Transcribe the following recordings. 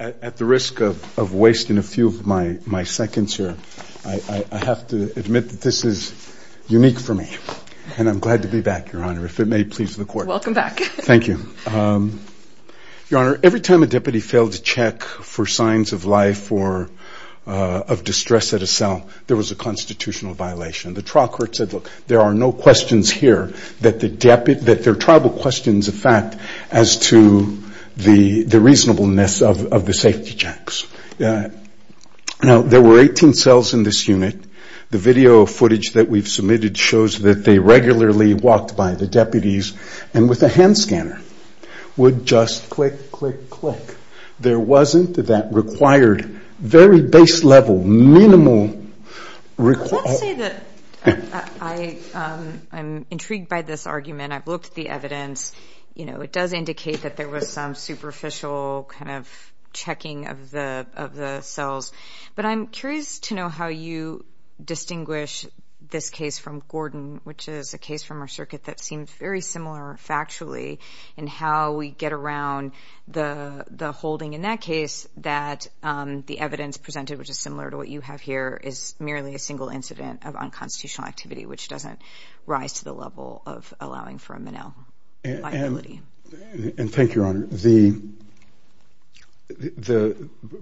At the risk of wasting a few of my seconds here, I have to admit that this is unique for me, and I'm glad to be back, Your Honor, if it may please the Court. Welcome back. Thank you. Your Honor, every time a deputy failed to check for signs of life or of distress at a cell, there was a constitutional violation. The trial court said, look, there are no questions here that they're tribal questions, in fact, as to the reasonableness of the safety checks. Now, there were 18 cells in this unit. The video footage that we've submitted shows that they regularly walked by the deputies and with a hand scanner would just click, click, click. There wasn't that required very base level, minimal... Let's say that I'm intrigued by this argument. I've looked at the evidence. You know, it does indicate that there was some superficial kind of checking of the cells, but I'm curious to know how you distinguish this case from Gordon, which is a case from our circuit that seems very similar factually in how we get around the holding in that case that the evidence presented, which is similar to what you have here, is merely a single incident of unconstitutional activity, which doesn't rise to the level of allowing for a Menil liability. And thank you, Your Honor.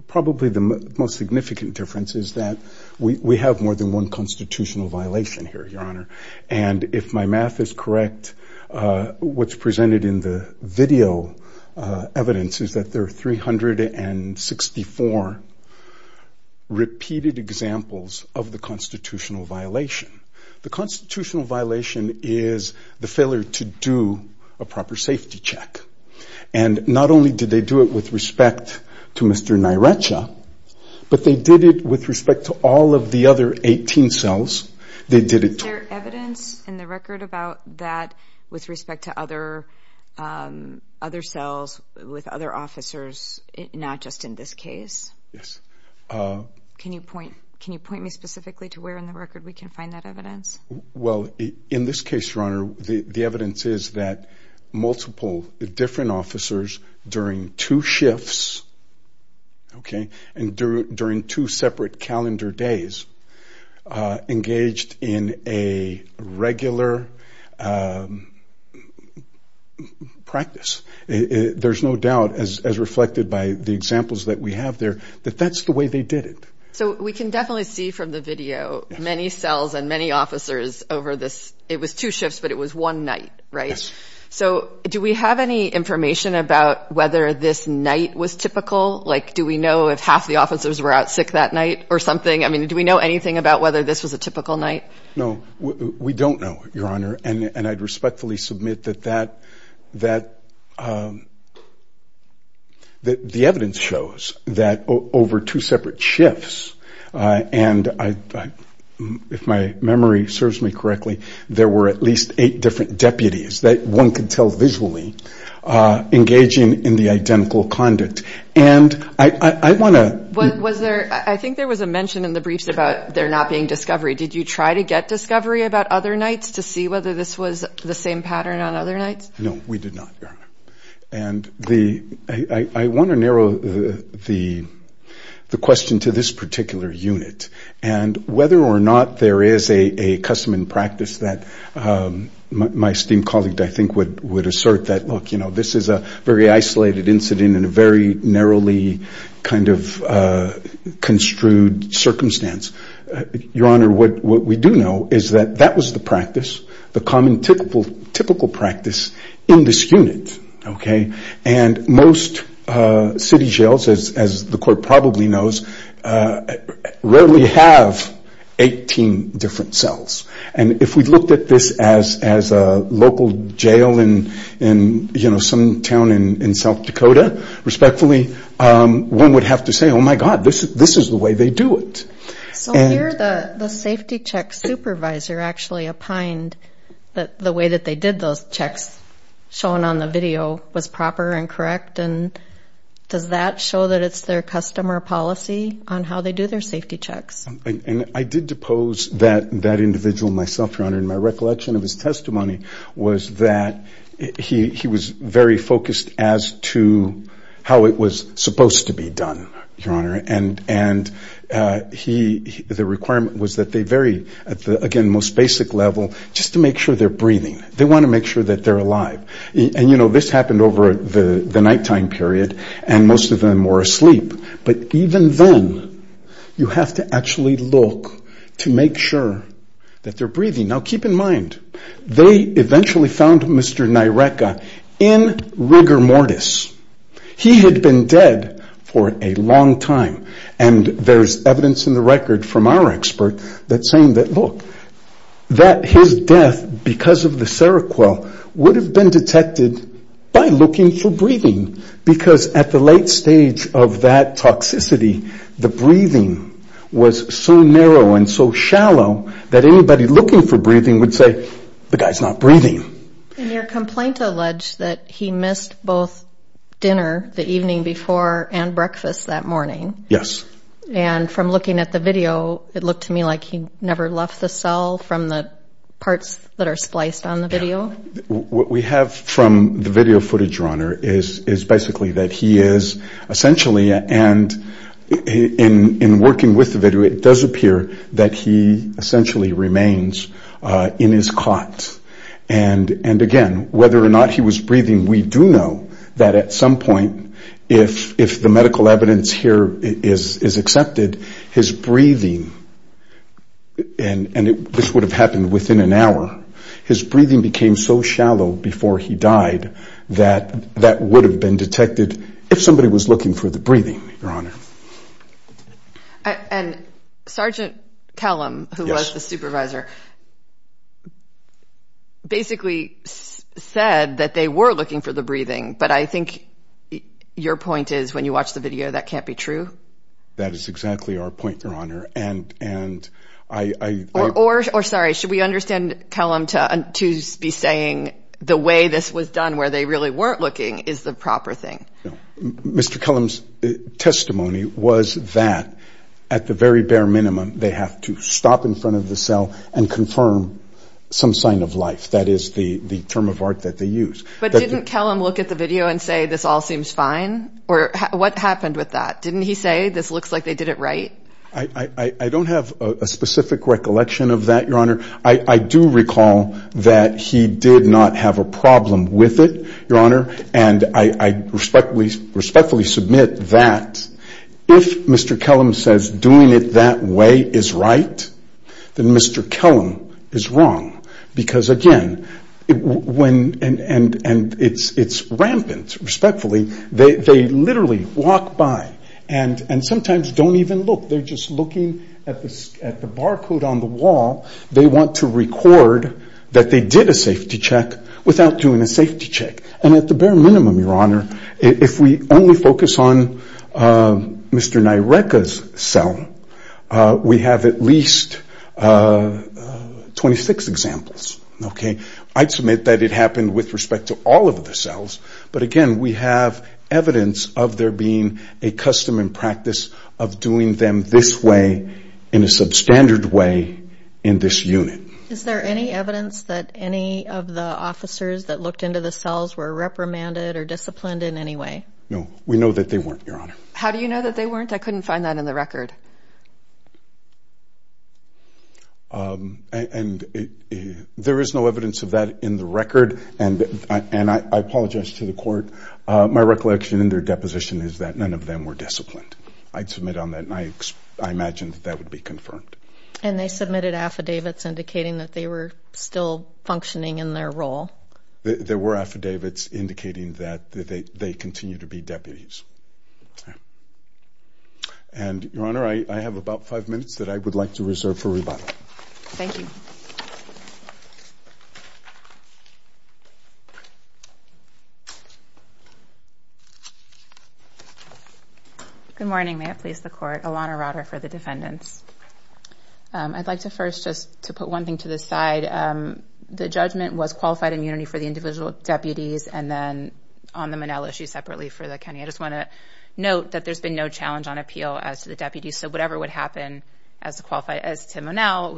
Probably the most significant difference is that we have more than one constitutional violation here, Your Honor. And if my math is correct, what's presented in the video evidence is that there are 364 repeated examples of the constitutional violation. The constitutional violation is the failure to do a proper safety check. And not only did they do it with respect to Mr. Nyrecha, but they did it with respect to all of the other 18 cells. They did it to... Is there evidence in the record about that with respect to other cells with other officers, not just in this case? Yes. Can you point me specifically to where in the record we can find that evidence? Well, in this case, Your Honor, the evidence is that multiple different officers during two shifts, okay, and during two separate calendar days engaged in a regular practice. There's no doubt, as reflected by the examples that we have there, that that's the way they did it. So we can definitely see from the video many cells and many officers over this... It was two shifts, but it was one night, right? Yes. So do we have any information about whether this night was typical? Like, do we know if half the officers were out sick that night or something? I mean, do we know anything about whether this was a typical night? No, we don't know, Your Honor. And I'd respectfully submit that the evidence shows that over two separate shifts, and if my memory serves me correctly, there were at least eight different deputies that one could tell visually engaging in the identical conduct. And I want to... Was there... I think there was a mention in the briefs about there not being discovery. Did you try to get discovery about other nights to see whether this was the same pattern on other nights? No, we did not, Your Honor. And I want to narrow the question to this particular unit, and whether or not there is a custom and practice that my esteemed colleague, I think, would assert that, look, you know, this is a very isolated incident in a very narrowly kind of construed circumstance. Your Honor, what we do know is that that was the practice, the common typical practice in this unit, okay? And most city jails, as the Court probably knows, rarely have 18 different cells. And if we looked at this as a local jail in, you know, some town in South Dakota, respectfully, one would have to say, oh, my God, this is the way they do it. So here the safety check supervisor actually opined that the way that they did those checks, shown on the video, was proper and correct. And does that show that it's their custom or policy on how they do their safety checks? And I did depose that individual myself, Your Honor, and my recollection of his testimony was that he was very focused as to how it was supposed to be done, Your Honor. And the requirement was that they vary at the, again, most basic level just to make sure they're breathing. They want to make sure that they're alive. And, you know, this happened over the nighttime period, and most of them were asleep. But even then, you have to actually look to make sure that they're breathing. Now, keep in mind, they eventually found Mr. Nyreka in rigor mortis. He had been dead for a long time. And there's evidence in the record from our expert that's saying that, look, that his death because of the Seroquel would have been detected by looking for breathing because at the late stage of that toxicity, the breathing was so narrow and so shallow that anybody looking for breathing would say, the guy's not breathing. And your complaint alleged that he missed both dinner the evening before and breakfast that morning. Yes. And from looking at the video, it looked to me like he never left the cell from the parts that are spliced on the video. What we have from the video footage, Your Honor, is basically that he is essentially, and in working with the video, it does appear that he essentially remains in his cot. And, again, whether or not he was breathing, we do know that at some point, if the medical evidence here is accepted, his breathing, and this would have happened within an hour, his breathing became so shallow before he died that that would have been detected if somebody was looking for the breathing, Your Honor. And Sergeant Kellum, who was the supervisor, basically said that they were looking for the breathing, but I think your point is, when you watch the video, that can't be true? That is exactly our point, Your Honor, and I... Or, sorry, should we understand Kellum to be saying the way this was done, where they really weren't looking, is the proper thing? Mr. Kellum's testimony was that, at the very bare minimum, they have to stop in front of the cell and confirm some sign of life. That is the term of art that they use. But didn't Kellum look at the video and say, this all seems fine? Or what happened with that? Didn't he say, this looks like they did it right? I don't have a specific recollection of that, Your Honor. I do recall that he did not have a problem with it, Your Honor, and I respectfully submit that if Mr. Kellum says doing it that way is right, then Mr. Kellum is wrong. Because, again, it's rampant, respectfully. They literally walk by and sometimes don't even look. They're just looking at the barcode on the wall. They want to record that they did a safety check without doing a safety check. And at the bare minimum, Your Honor, if we only focus on Mr. Nyreka's cell, we have at least 26 examples. I'd submit that it happened with respect to all of the cells. But, again, we have evidence of there being a custom and practice of doing them this way, in a substandard way, in this unit. Is there any evidence that any of the officers that looked into the cells were reprimanded or disciplined in any way? No. We know that they weren't, Your Honor. How do you know that they weren't? I couldn't find that in the record. There is no evidence of that in the record, and I apologize to the Court. My recollection in their deposition is that none of them were disciplined. I'd submit on that, and I imagine that that would be confirmed. And they submitted affidavits indicating that they were still functioning in their role? There were affidavits indicating that they continue to be deputies. And, Your Honor, I have about five minutes that I would like to reserve for rebuttal. Thank you. Good morning. May it please the Court. Ilana Rotter for the defendants. I'd like to first just to put one thing to the side. The judgment was qualified immunity for the individual deputies and then on the Monell issue separately for the county. I just want to note that there's been no challenge on appeal as to the deputies, so whatever would happen as to Monell,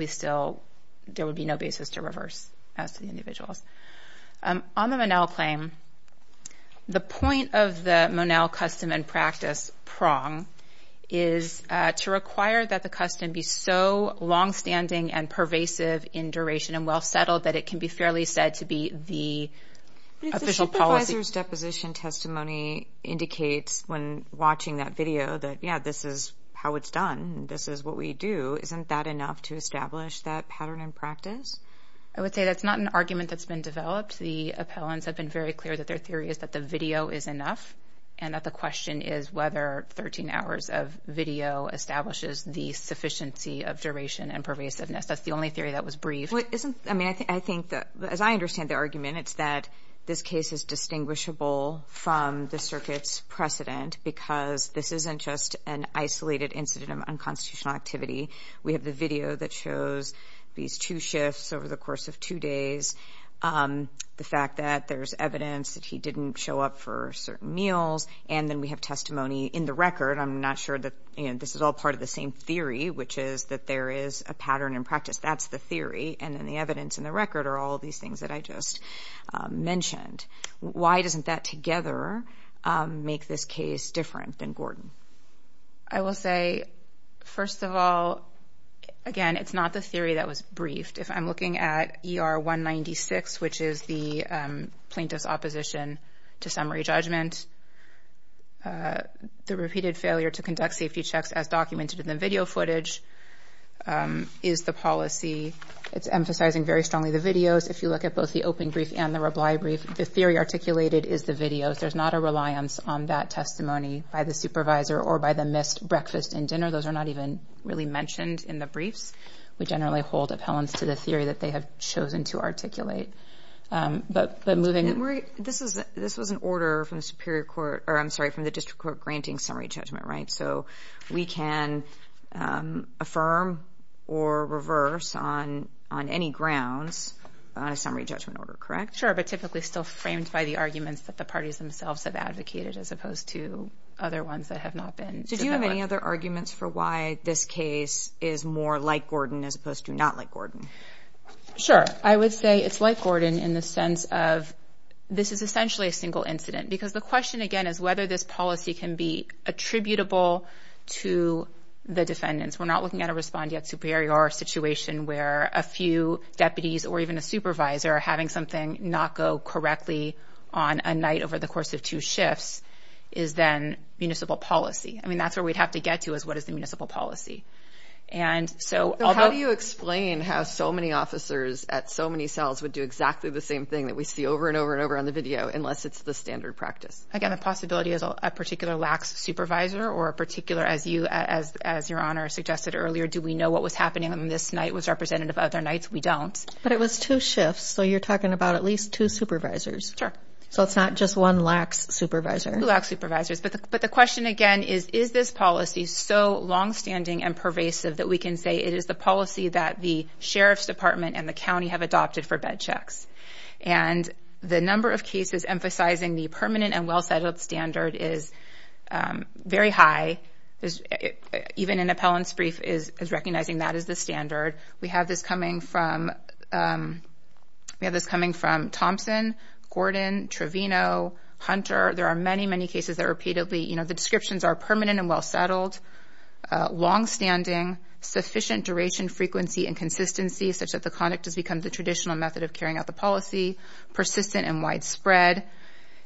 there would be no basis to reverse as to the individuals. On the Monell claim, the point of the Monell custom and practice prong is to require that the custom be so longstanding and pervasive in duration and well settled that it can be fairly said to be the official policy. The officer's deposition testimony indicates when watching that video that, yeah, this is how it's done. This is what we do. Isn't that enough to establish that pattern and practice? I would say that's not an argument that's been developed. The appellants have been very clear that their theory is that the video is enough and that the question is whether 13 hours of video establishes the sufficiency of duration and pervasiveness. That's the only theory that was briefed. As I understand the argument, it's that this case is distinguishable from the circuit's precedent because this isn't just an isolated incident of unconstitutional activity. We have the video that shows these two shifts over the course of two days, the fact that there's evidence that he didn't show up for certain meals, and then we have testimony in the record. I'm not sure that this is all part of the same theory, which is that there is a pattern in practice. That's the theory, and then the evidence in the record are all of these things that I just mentioned. Why doesn't that together make this case different than Gordon? I will say, first of all, again, it's not the theory that was briefed. If I'm looking at ER 196, which is the plaintiff's opposition to summary judgment, the repeated failure to conduct safety checks as documented in the video footage is the policy. It's emphasizing very strongly the videos. If you look at both the open brief and the reply brief, the theory articulated is the videos. There's not a reliance on that testimony by the supervisor or by the missed breakfast and dinner. Those are not even really mentioned in the briefs. We generally hold appellants to the theory that they have chosen to articulate. This was an order from the district court granting summary judgment, right? So we can affirm or reverse on any grounds on a summary judgment order, correct? Sure, but typically still framed by the arguments that the parties themselves have advocated as opposed to other ones that have not been. Did you have any other arguments for why this case is more like Gordon as opposed to not like Gordon? Sure, I would say it's like Gordon in the sense of this is essentially a single incident because the question again is whether this policy can be attributable to the defendants. We're not looking at a respondeat superior situation where a few deputies or even a supervisor are having something not go correctly on a night over the course of two shifts is then municipal policy. I mean, that's where we'd have to get to is what is the municipal policy. How do you explain how so many officers at so many cells would do exactly the same thing that we see over and over and over on the video unless it's the standard practice? Again, the possibility is a particular lax supervisor or a particular, as your Honor suggested earlier, do we know what was happening on this night was representative of other nights? We don't. But it was two shifts, so you're talking about at least two supervisors. Sure. So it's not just one lax supervisor. Two lax supervisors. But the question again is, is this policy so longstanding and pervasive that we can say it is the policy that the sheriff's department and the county have adopted for bed checks? And the number of cases emphasizing the permanent and well-settled standard is very high. Even an appellant's brief is recognizing that as the standard. We have this coming from Thompson, Gordon, Trevino, Hunter. There are many, many cases that repeatedly the descriptions are permanent and well-settled, longstanding, sufficient duration, frequency, and consistency such that the conduct has become the traditional method of carrying out the policy, persistent and widespread.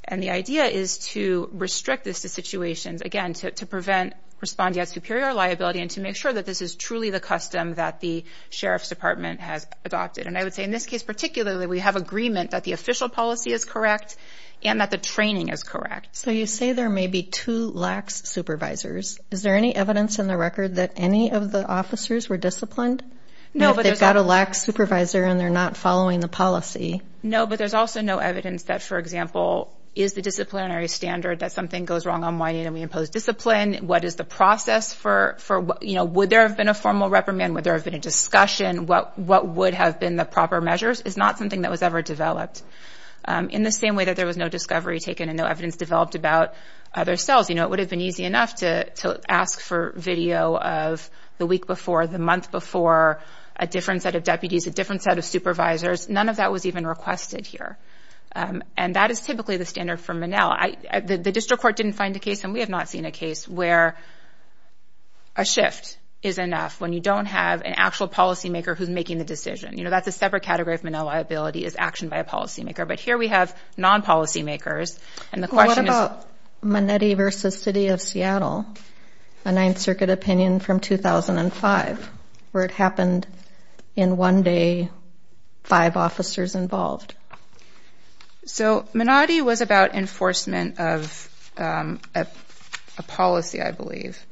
And the idea is to restrict this to situations, again, to prevent respondeat superior liability and to make sure that this is truly the custom that the sheriff's department has adopted. And I would say in this case particularly, we have agreement that the official policy is correct and that the training is correct. So you say there may be two lax supervisors. Is there any evidence in the record that any of the officers were disciplined? No, but there's also... And if they've got a lax supervisor and they're not following the policy? No, but there's also no evidence that, for example, is the disciplinary standard that something goes wrong on why you impose discipline? What is the process for, you know, would there have been a formal reprimand? Would there have been a discussion? What would have been the proper measures? It's not something that was ever developed. In the same way that there was no discovery taken and no evidence developed about other cells, you know, it would have been easy enough to ask for video of the week before, the month before, a different set of deputies, a different set of supervisors. None of that was even requested here. And that is typically the standard for Monell. The district court didn't find a case, and we have not seen a case, where a shift is enough when you don't have an actual policymaker who's making the decision. You know, that's a separate category of Monell liability, is action by a policymaker. But here we have non-policymakers, and the question is... What about Manatee v. City of Seattle, a Ninth Circuit opinion from 2005, where it happened in one day, five officers involved? So, Manatee was about enforcement of a policy, I believe.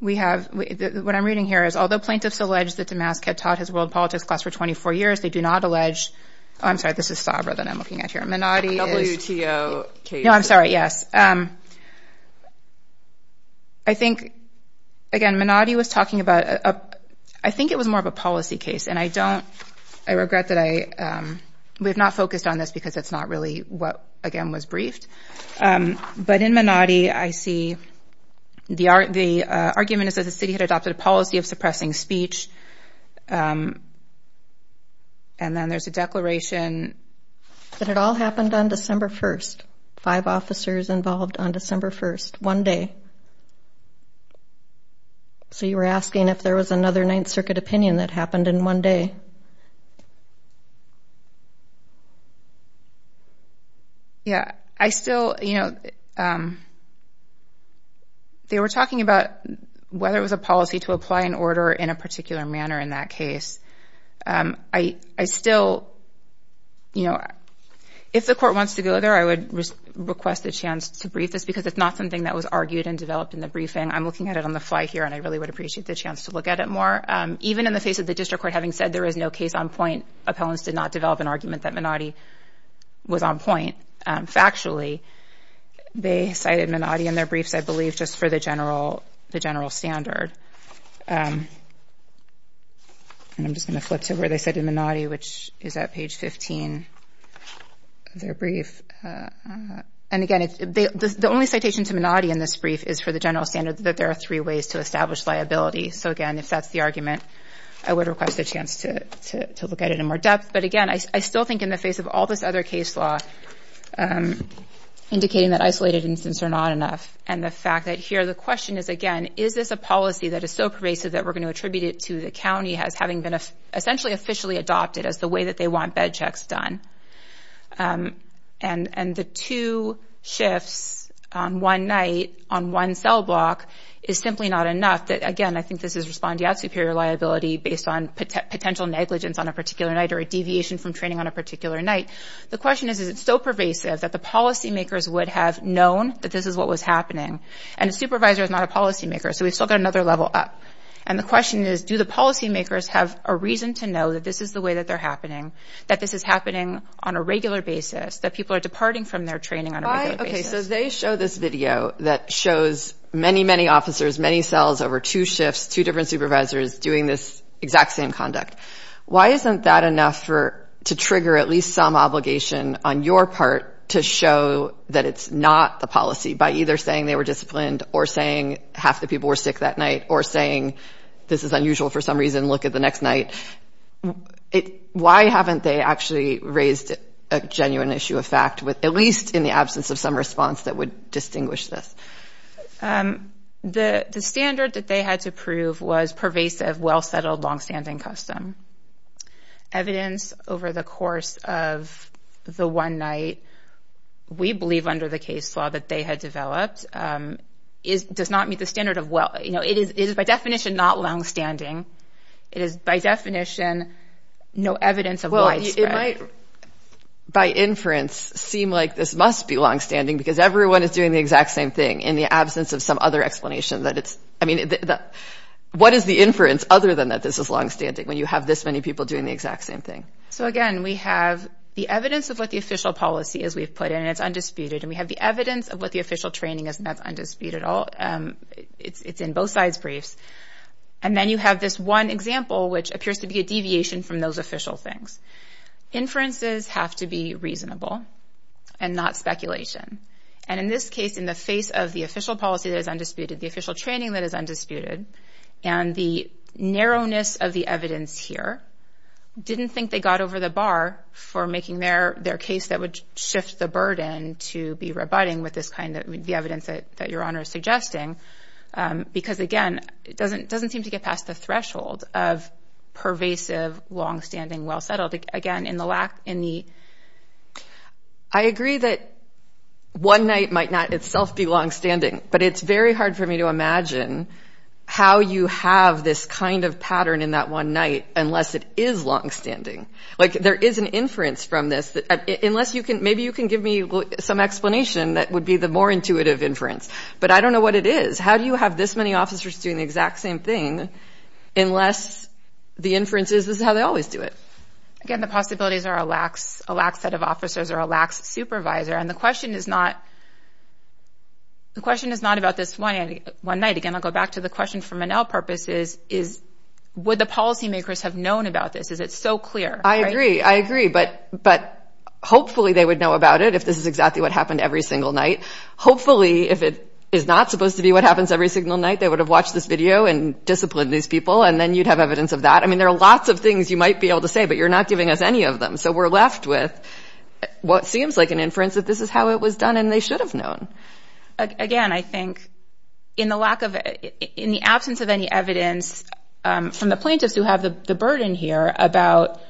We have... What I'm reading here is, although plaintiffs allege that Damask had taught his world politics class for 24 years, they do not allege... Oh, I'm sorry, this is Sabra that I'm looking at here. Manatee is... WTO case. No, I'm sorry, yes. I think, again, Manatee was talking about... I think it was more of a policy case, and I don't... I regret that I... We have not focused on this because it's not really what, again, was briefed. But in Manatee, I see the argument is that the city had adopted a policy of suppressing speech, and then there's a declaration... That it all happened on December 1st, five officers involved on December 1st, one day. So you were asking if there was another Ninth Circuit opinion that happened in one day. Yeah, I still... They were talking about whether it was a policy to apply an order in a particular manner in that case. I still... If the court wants to go there, I would request a chance to brief this because it's not something that was argued and developed in the briefing. I'm looking at it on the fly here, and I really would appreciate the chance to look at it more. Even in the face of the district court having said there is no case on point, appellants did not develop an argument that Manatee was on point. Factually, they cited Manatee in their briefs, I believe, just for the general standard. And I'm just going to flip to where they said in Manatee, which is at page 15 of their brief. And again, the only citation to Manatee in this brief is for the general standard that there are three ways to establish liability. So again, if that's the argument, I would request a chance to look at it in more depth. But again, I still think in the face of all this other case law, indicating that isolated instances are not enough, and the fact that here the question is, again, is this a policy that is so pervasive that we're going to attribute it to the county as having been essentially officially adopted as the way that they want bed checks done. And the two shifts on one night on one cell block is simply not enough. Again, I think this is respondeat superior liability based on potential negligence on a particular night or a deviation from training on a particular night. The question is, is it so pervasive that the policymakers would have known that this is what was happening? And a supervisor is not a policymaker, so we've still got another level up. And the question is, do the policymakers have a reason to know that this is the way that they're happening, that this is happening on a regular basis, that people are departing from their training on a regular basis? Okay, so they show this video that shows many, many officers, many cells over two shifts, two different supervisors doing this exact same conduct. Why isn't that enough to trigger at least some obligation on your part to show that it's not the policy by either saying they were disciplined or saying half the people were sick that night or saying this is unusual for some reason, look at the next night? Why haven't they actually raised a genuine issue of fact, at least in the absence of some response that would distinguish this? The standard that they had to prove was pervasive, well-settled, long-standing custom. Evidence over the course of the one night, we believe under the case law that they had developed, does not meet the standard of well, you know, it is by definition not long-standing. It is by definition no evidence of widespread. Well, it might by inference seem like this must be long-standing because everyone is doing the exact same thing in the absence of some other explanation that it's, I mean, what is the inference other than that this is long-standing when you have this many people doing the exact same thing? So again, we have the evidence of what the official policy is we've put in, and it's undisputed, and we have the evidence of what the official training is, and that's undisputed. It's in both sides' briefs. And then you have this one example which appears to be a deviation from those official things. Inferences have to be reasonable and not speculation. And in this case, in the face of the official policy that is undisputed, the official training that is undisputed, and the narrowness of the evidence here, didn't think they got over the bar for making their case that would shift the burden to be rebutting with this kind of evidence that Your Honor is suggesting because, again, it doesn't seem to get past the threshold of pervasive, long-standing, well-settled. Again, in the lack in the... I agree that one night might not itself be long-standing, but it's very hard for me to imagine how you have this kind of pattern in that one night unless it is long-standing. Like, there is an inference from this. Maybe you can give me some explanation that would be the more intuitive inference, but I don't know what it is. How do you have this many officers doing the exact same thing unless the inference is this is how they always do it? Again, the possibilities are a lax set of officers or a lax supervisor, and the question is not about this one night. Again, I'll go back to the question for Monell purposes. Would the policymakers have known about this? Is it so clear? I agree, I agree, but hopefully they would know about it if this is exactly what happened every single night. Hopefully, if it is not supposed to be what happens every single night, they would have watched this video and disciplined these people, and then you'd have evidence of that. I mean, there are lots of things you might be able to say, but you're not giving us any of them, so we're left with what seems like an inference that this is how it was done, and they should have known. Again, I think in the absence of any evidence from the plaintiffs who have the burden here about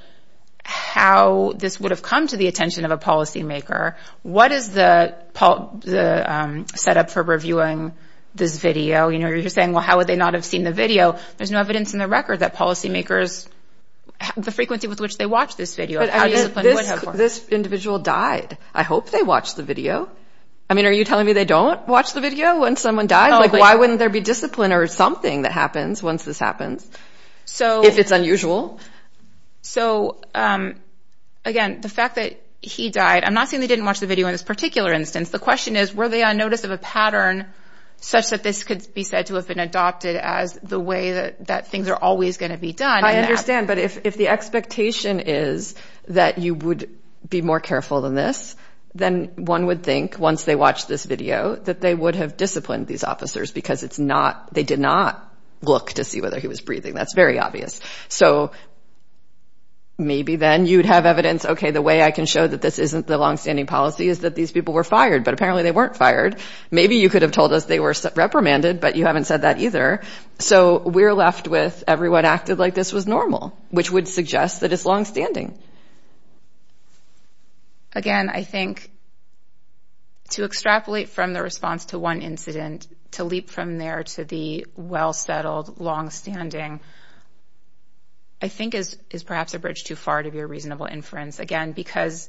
how this would have come to the attention of a policymaker, what is the setup for reviewing this video? You're saying, well, how would they not have seen the video? There's no evidence in the record that policymakers, the frequency with which they watch this video, are disciplined. This individual died. I hope they watched the video. I mean, are you telling me they don't watch the video when someone dies? Like, why wouldn't there be discipline or something that happens once this happens, if it's unusual? So, again, the fact that he died, I'm not saying they didn't watch the video in this particular instance. The question is, were they on notice of a pattern such that this could be said to have been adopted as the way that things are always going to be done? I understand, but if the expectation is that you would be more careful than this, then one would think, once they watch this video, that they would have disciplined these officers because they did not look to see whether he was breathing. That's very obvious. So maybe then you'd have evidence, okay, the way I can show that this isn't the longstanding policy is that these people were fired, but apparently they weren't fired. Maybe you could have told us they were reprimanded, but you haven't said that either. So we're left with everyone acted like this was normal, which would suggest that it's longstanding. Again, I think to extrapolate from the response to one incident to leap from there to the well-settled longstanding, I think is perhaps a bridge too far to be a reasonable inference. Again, because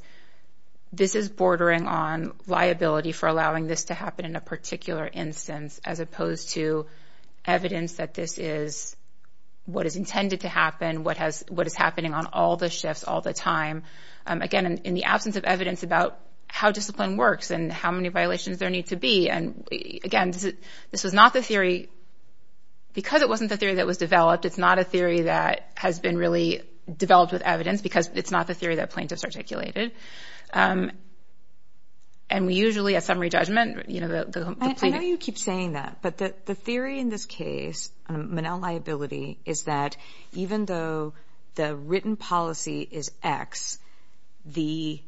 this is bordering on liability for allowing this to happen in a particular instance, as opposed to evidence that this is what is intended to happen, what is happening on all the shifts, all the time. Again, in the absence of evidence about how discipline works and how many violations there need to be. And again, this was not the theory... Because it wasn't the theory that was developed, it's not a theory that has been really developed with evidence because it's not the theory that plaintiffs articulated. And we usually, at summary judgment... I know you keep saying that, but the theory in this case, Manel liability, is that even though the written policy is X, the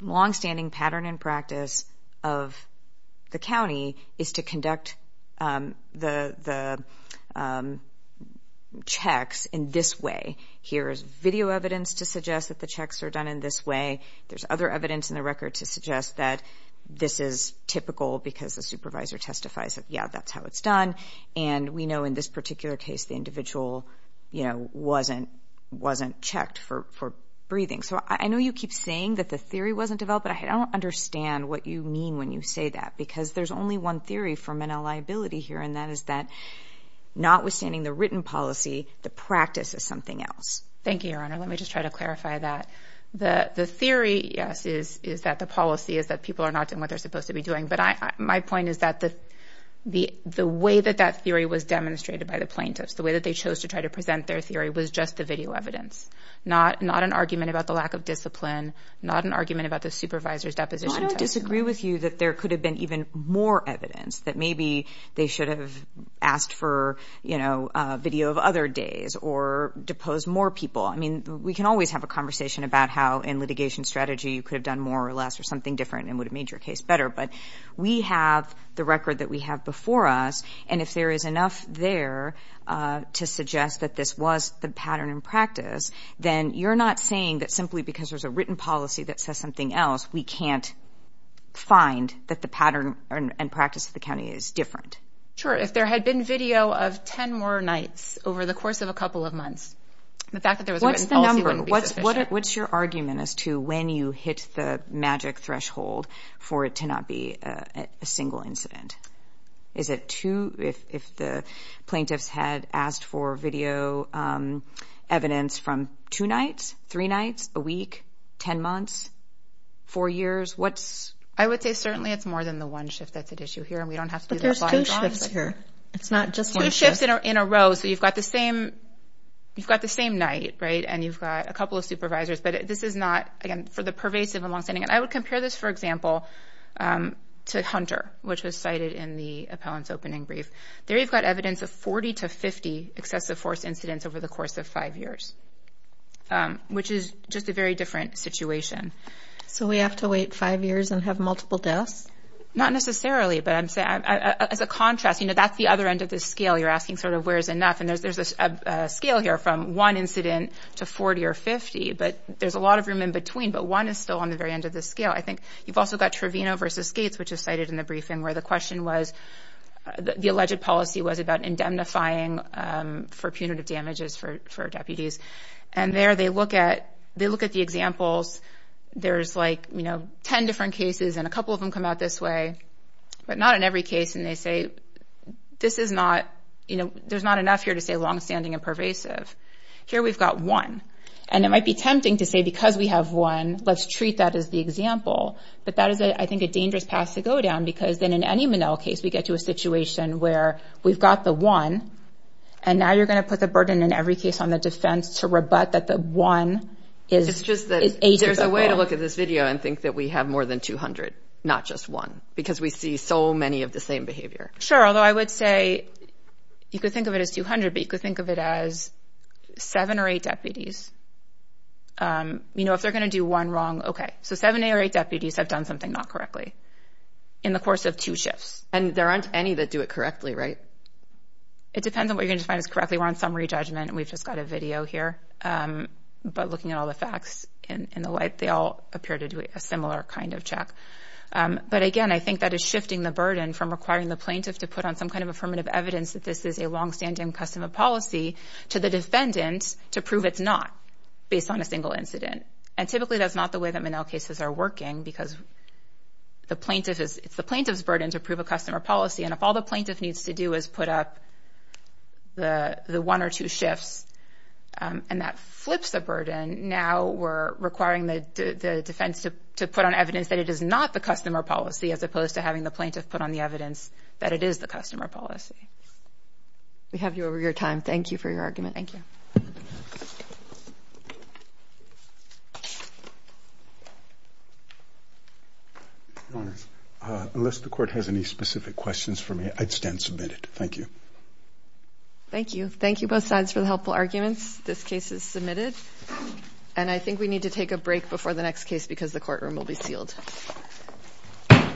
longstanding pattern and practice of the county is to conduct the checks in this way. Here is video evidence to suggest that the checks are done in this way. There's other evidence in the record to suggest that this is typical because the supervisor testifies that, yeah, that's how it's done. And we know in this particular case, the individual wasn't checked for breathing. So I know you keep saying that the theory wasn't developed, but I don't understand what you mean when you say that. Because there's only one theory for Manel liability here, and that is that notwithstanding the written policy, the practice is something else. Thank you, Your Honor. Let me just try to clarify that. The theory, yes, is that the policy is that people are not doing what they're supposed to be doing. But my point is that the way that that theory was demonstrated by the plaintiffs, the way that they chose to try to present their theory, was just the video evidence, not an argument about the lack of discipline, not an argument about the supervisor's deposition. I disagree with you that there could have been even more evidence, that maybe they should have asked for, you know, video of other days or deposed more people. I mean, we can always have a conversation about how, in litigation strategy, you could have done more or less or something different and would have made your case better. But we have the record that we have before us, and if there is enough there to suggest that this was the pattern in practice, then you're not saying that simply because there's a written policy that says something else, we can't find that the pattern and practice of the county is different. Sure. If there had been video of 10 more nights over the course of a couple of months, the fact that there was a written policy wouldn't be sufficient. What's your argument as to when you hit the magic threshold for it to not be a single incident? Is it two? If the plaintiffs had asked for video evidence from two nights, three nights, a week, 10 months, four years, what's... I would say certainly it's more than the one shift that's at issue here, and we don't have to do that by and large. But there's two shifts here. It's not just one shift. Just in a row, so you've got the same night, right, and you've got a couple of supervisors. But this is not, again, for the pervasive and longstanding... And I would compare this, for example, to Hunter, which was cited in the appellant's opening brief. There you've got evidence of 40 to 50 excessive force incidents over the course of five years, which is just a very different situation. So we have to wait five years and have multiple deaths? Not necessarily, but as a contrast, that's the other end of the scale. You're asking sort of where's enough, and there's a scale here from one incident to 40 or 50, but there's a lot of room in between, but one is still on the very end of the scale. I think you've also got Trevino v. Gates, which is cited in the briefing, where the question was... the alleged policy was about indemnifying for punitive damages for deputies. And there they look at the examples. There's, like, you know, 10 different cases, and a couple of them come out this way, but not in every case, and they say this is not, you know, there's not enough here to say longstanding and pervasive. Here we've got one. And it might be tempting to say because we have one, let's treat that as the example, but that is, I think, a dangerous path to go down because then in any Monell case we get to a situation where we've got the one, and now you're going to put the burden in every case on the defense to rebut that the one is ageable. It's just that there's a way to look at this video and think that we have more than 200, not just one, because we see so many of the same behavior. Sure, although I would say you could think of it as 200, but you could think of it as seven or eight deputies. You know, if they're going to do one wrong, okay. So seven or eight deputies have done something not correctly in the course of two shifts. And there aren't any that do it correctly, right? It depends on what you're going to define as correctly. We're on summary judgment, and we've just got a video here. But looking at all the facts in the light, they all appear to do a similar kind of check. But again, I think that is shifting the burden from requiring the plaintiff to put on some kind of affirmative evidence that this is a longstanding customer policy to the defendant to prove it's not, based on a single incident. And typically, that's not the way that Monell cases are working, because it's the plaintiff's burden to prove a customer policy. And if all the plaintiff needs to do is put up the one or two shifts, and that flips the burden, now we're requiring the defense to put on evidence that it is not the customer policy, as opposed to having the plaintiff put on the evidence that it is the customer policy. We have you over your time. Thank you for your argument. Unless the Court has any specific questions for me, I'd stand submitted. Thank you. Thank you. Thank you, both sides, for the helpful arguments. This case is submitted. And I think we need to take a break before the next case because the courtroom will be sealed.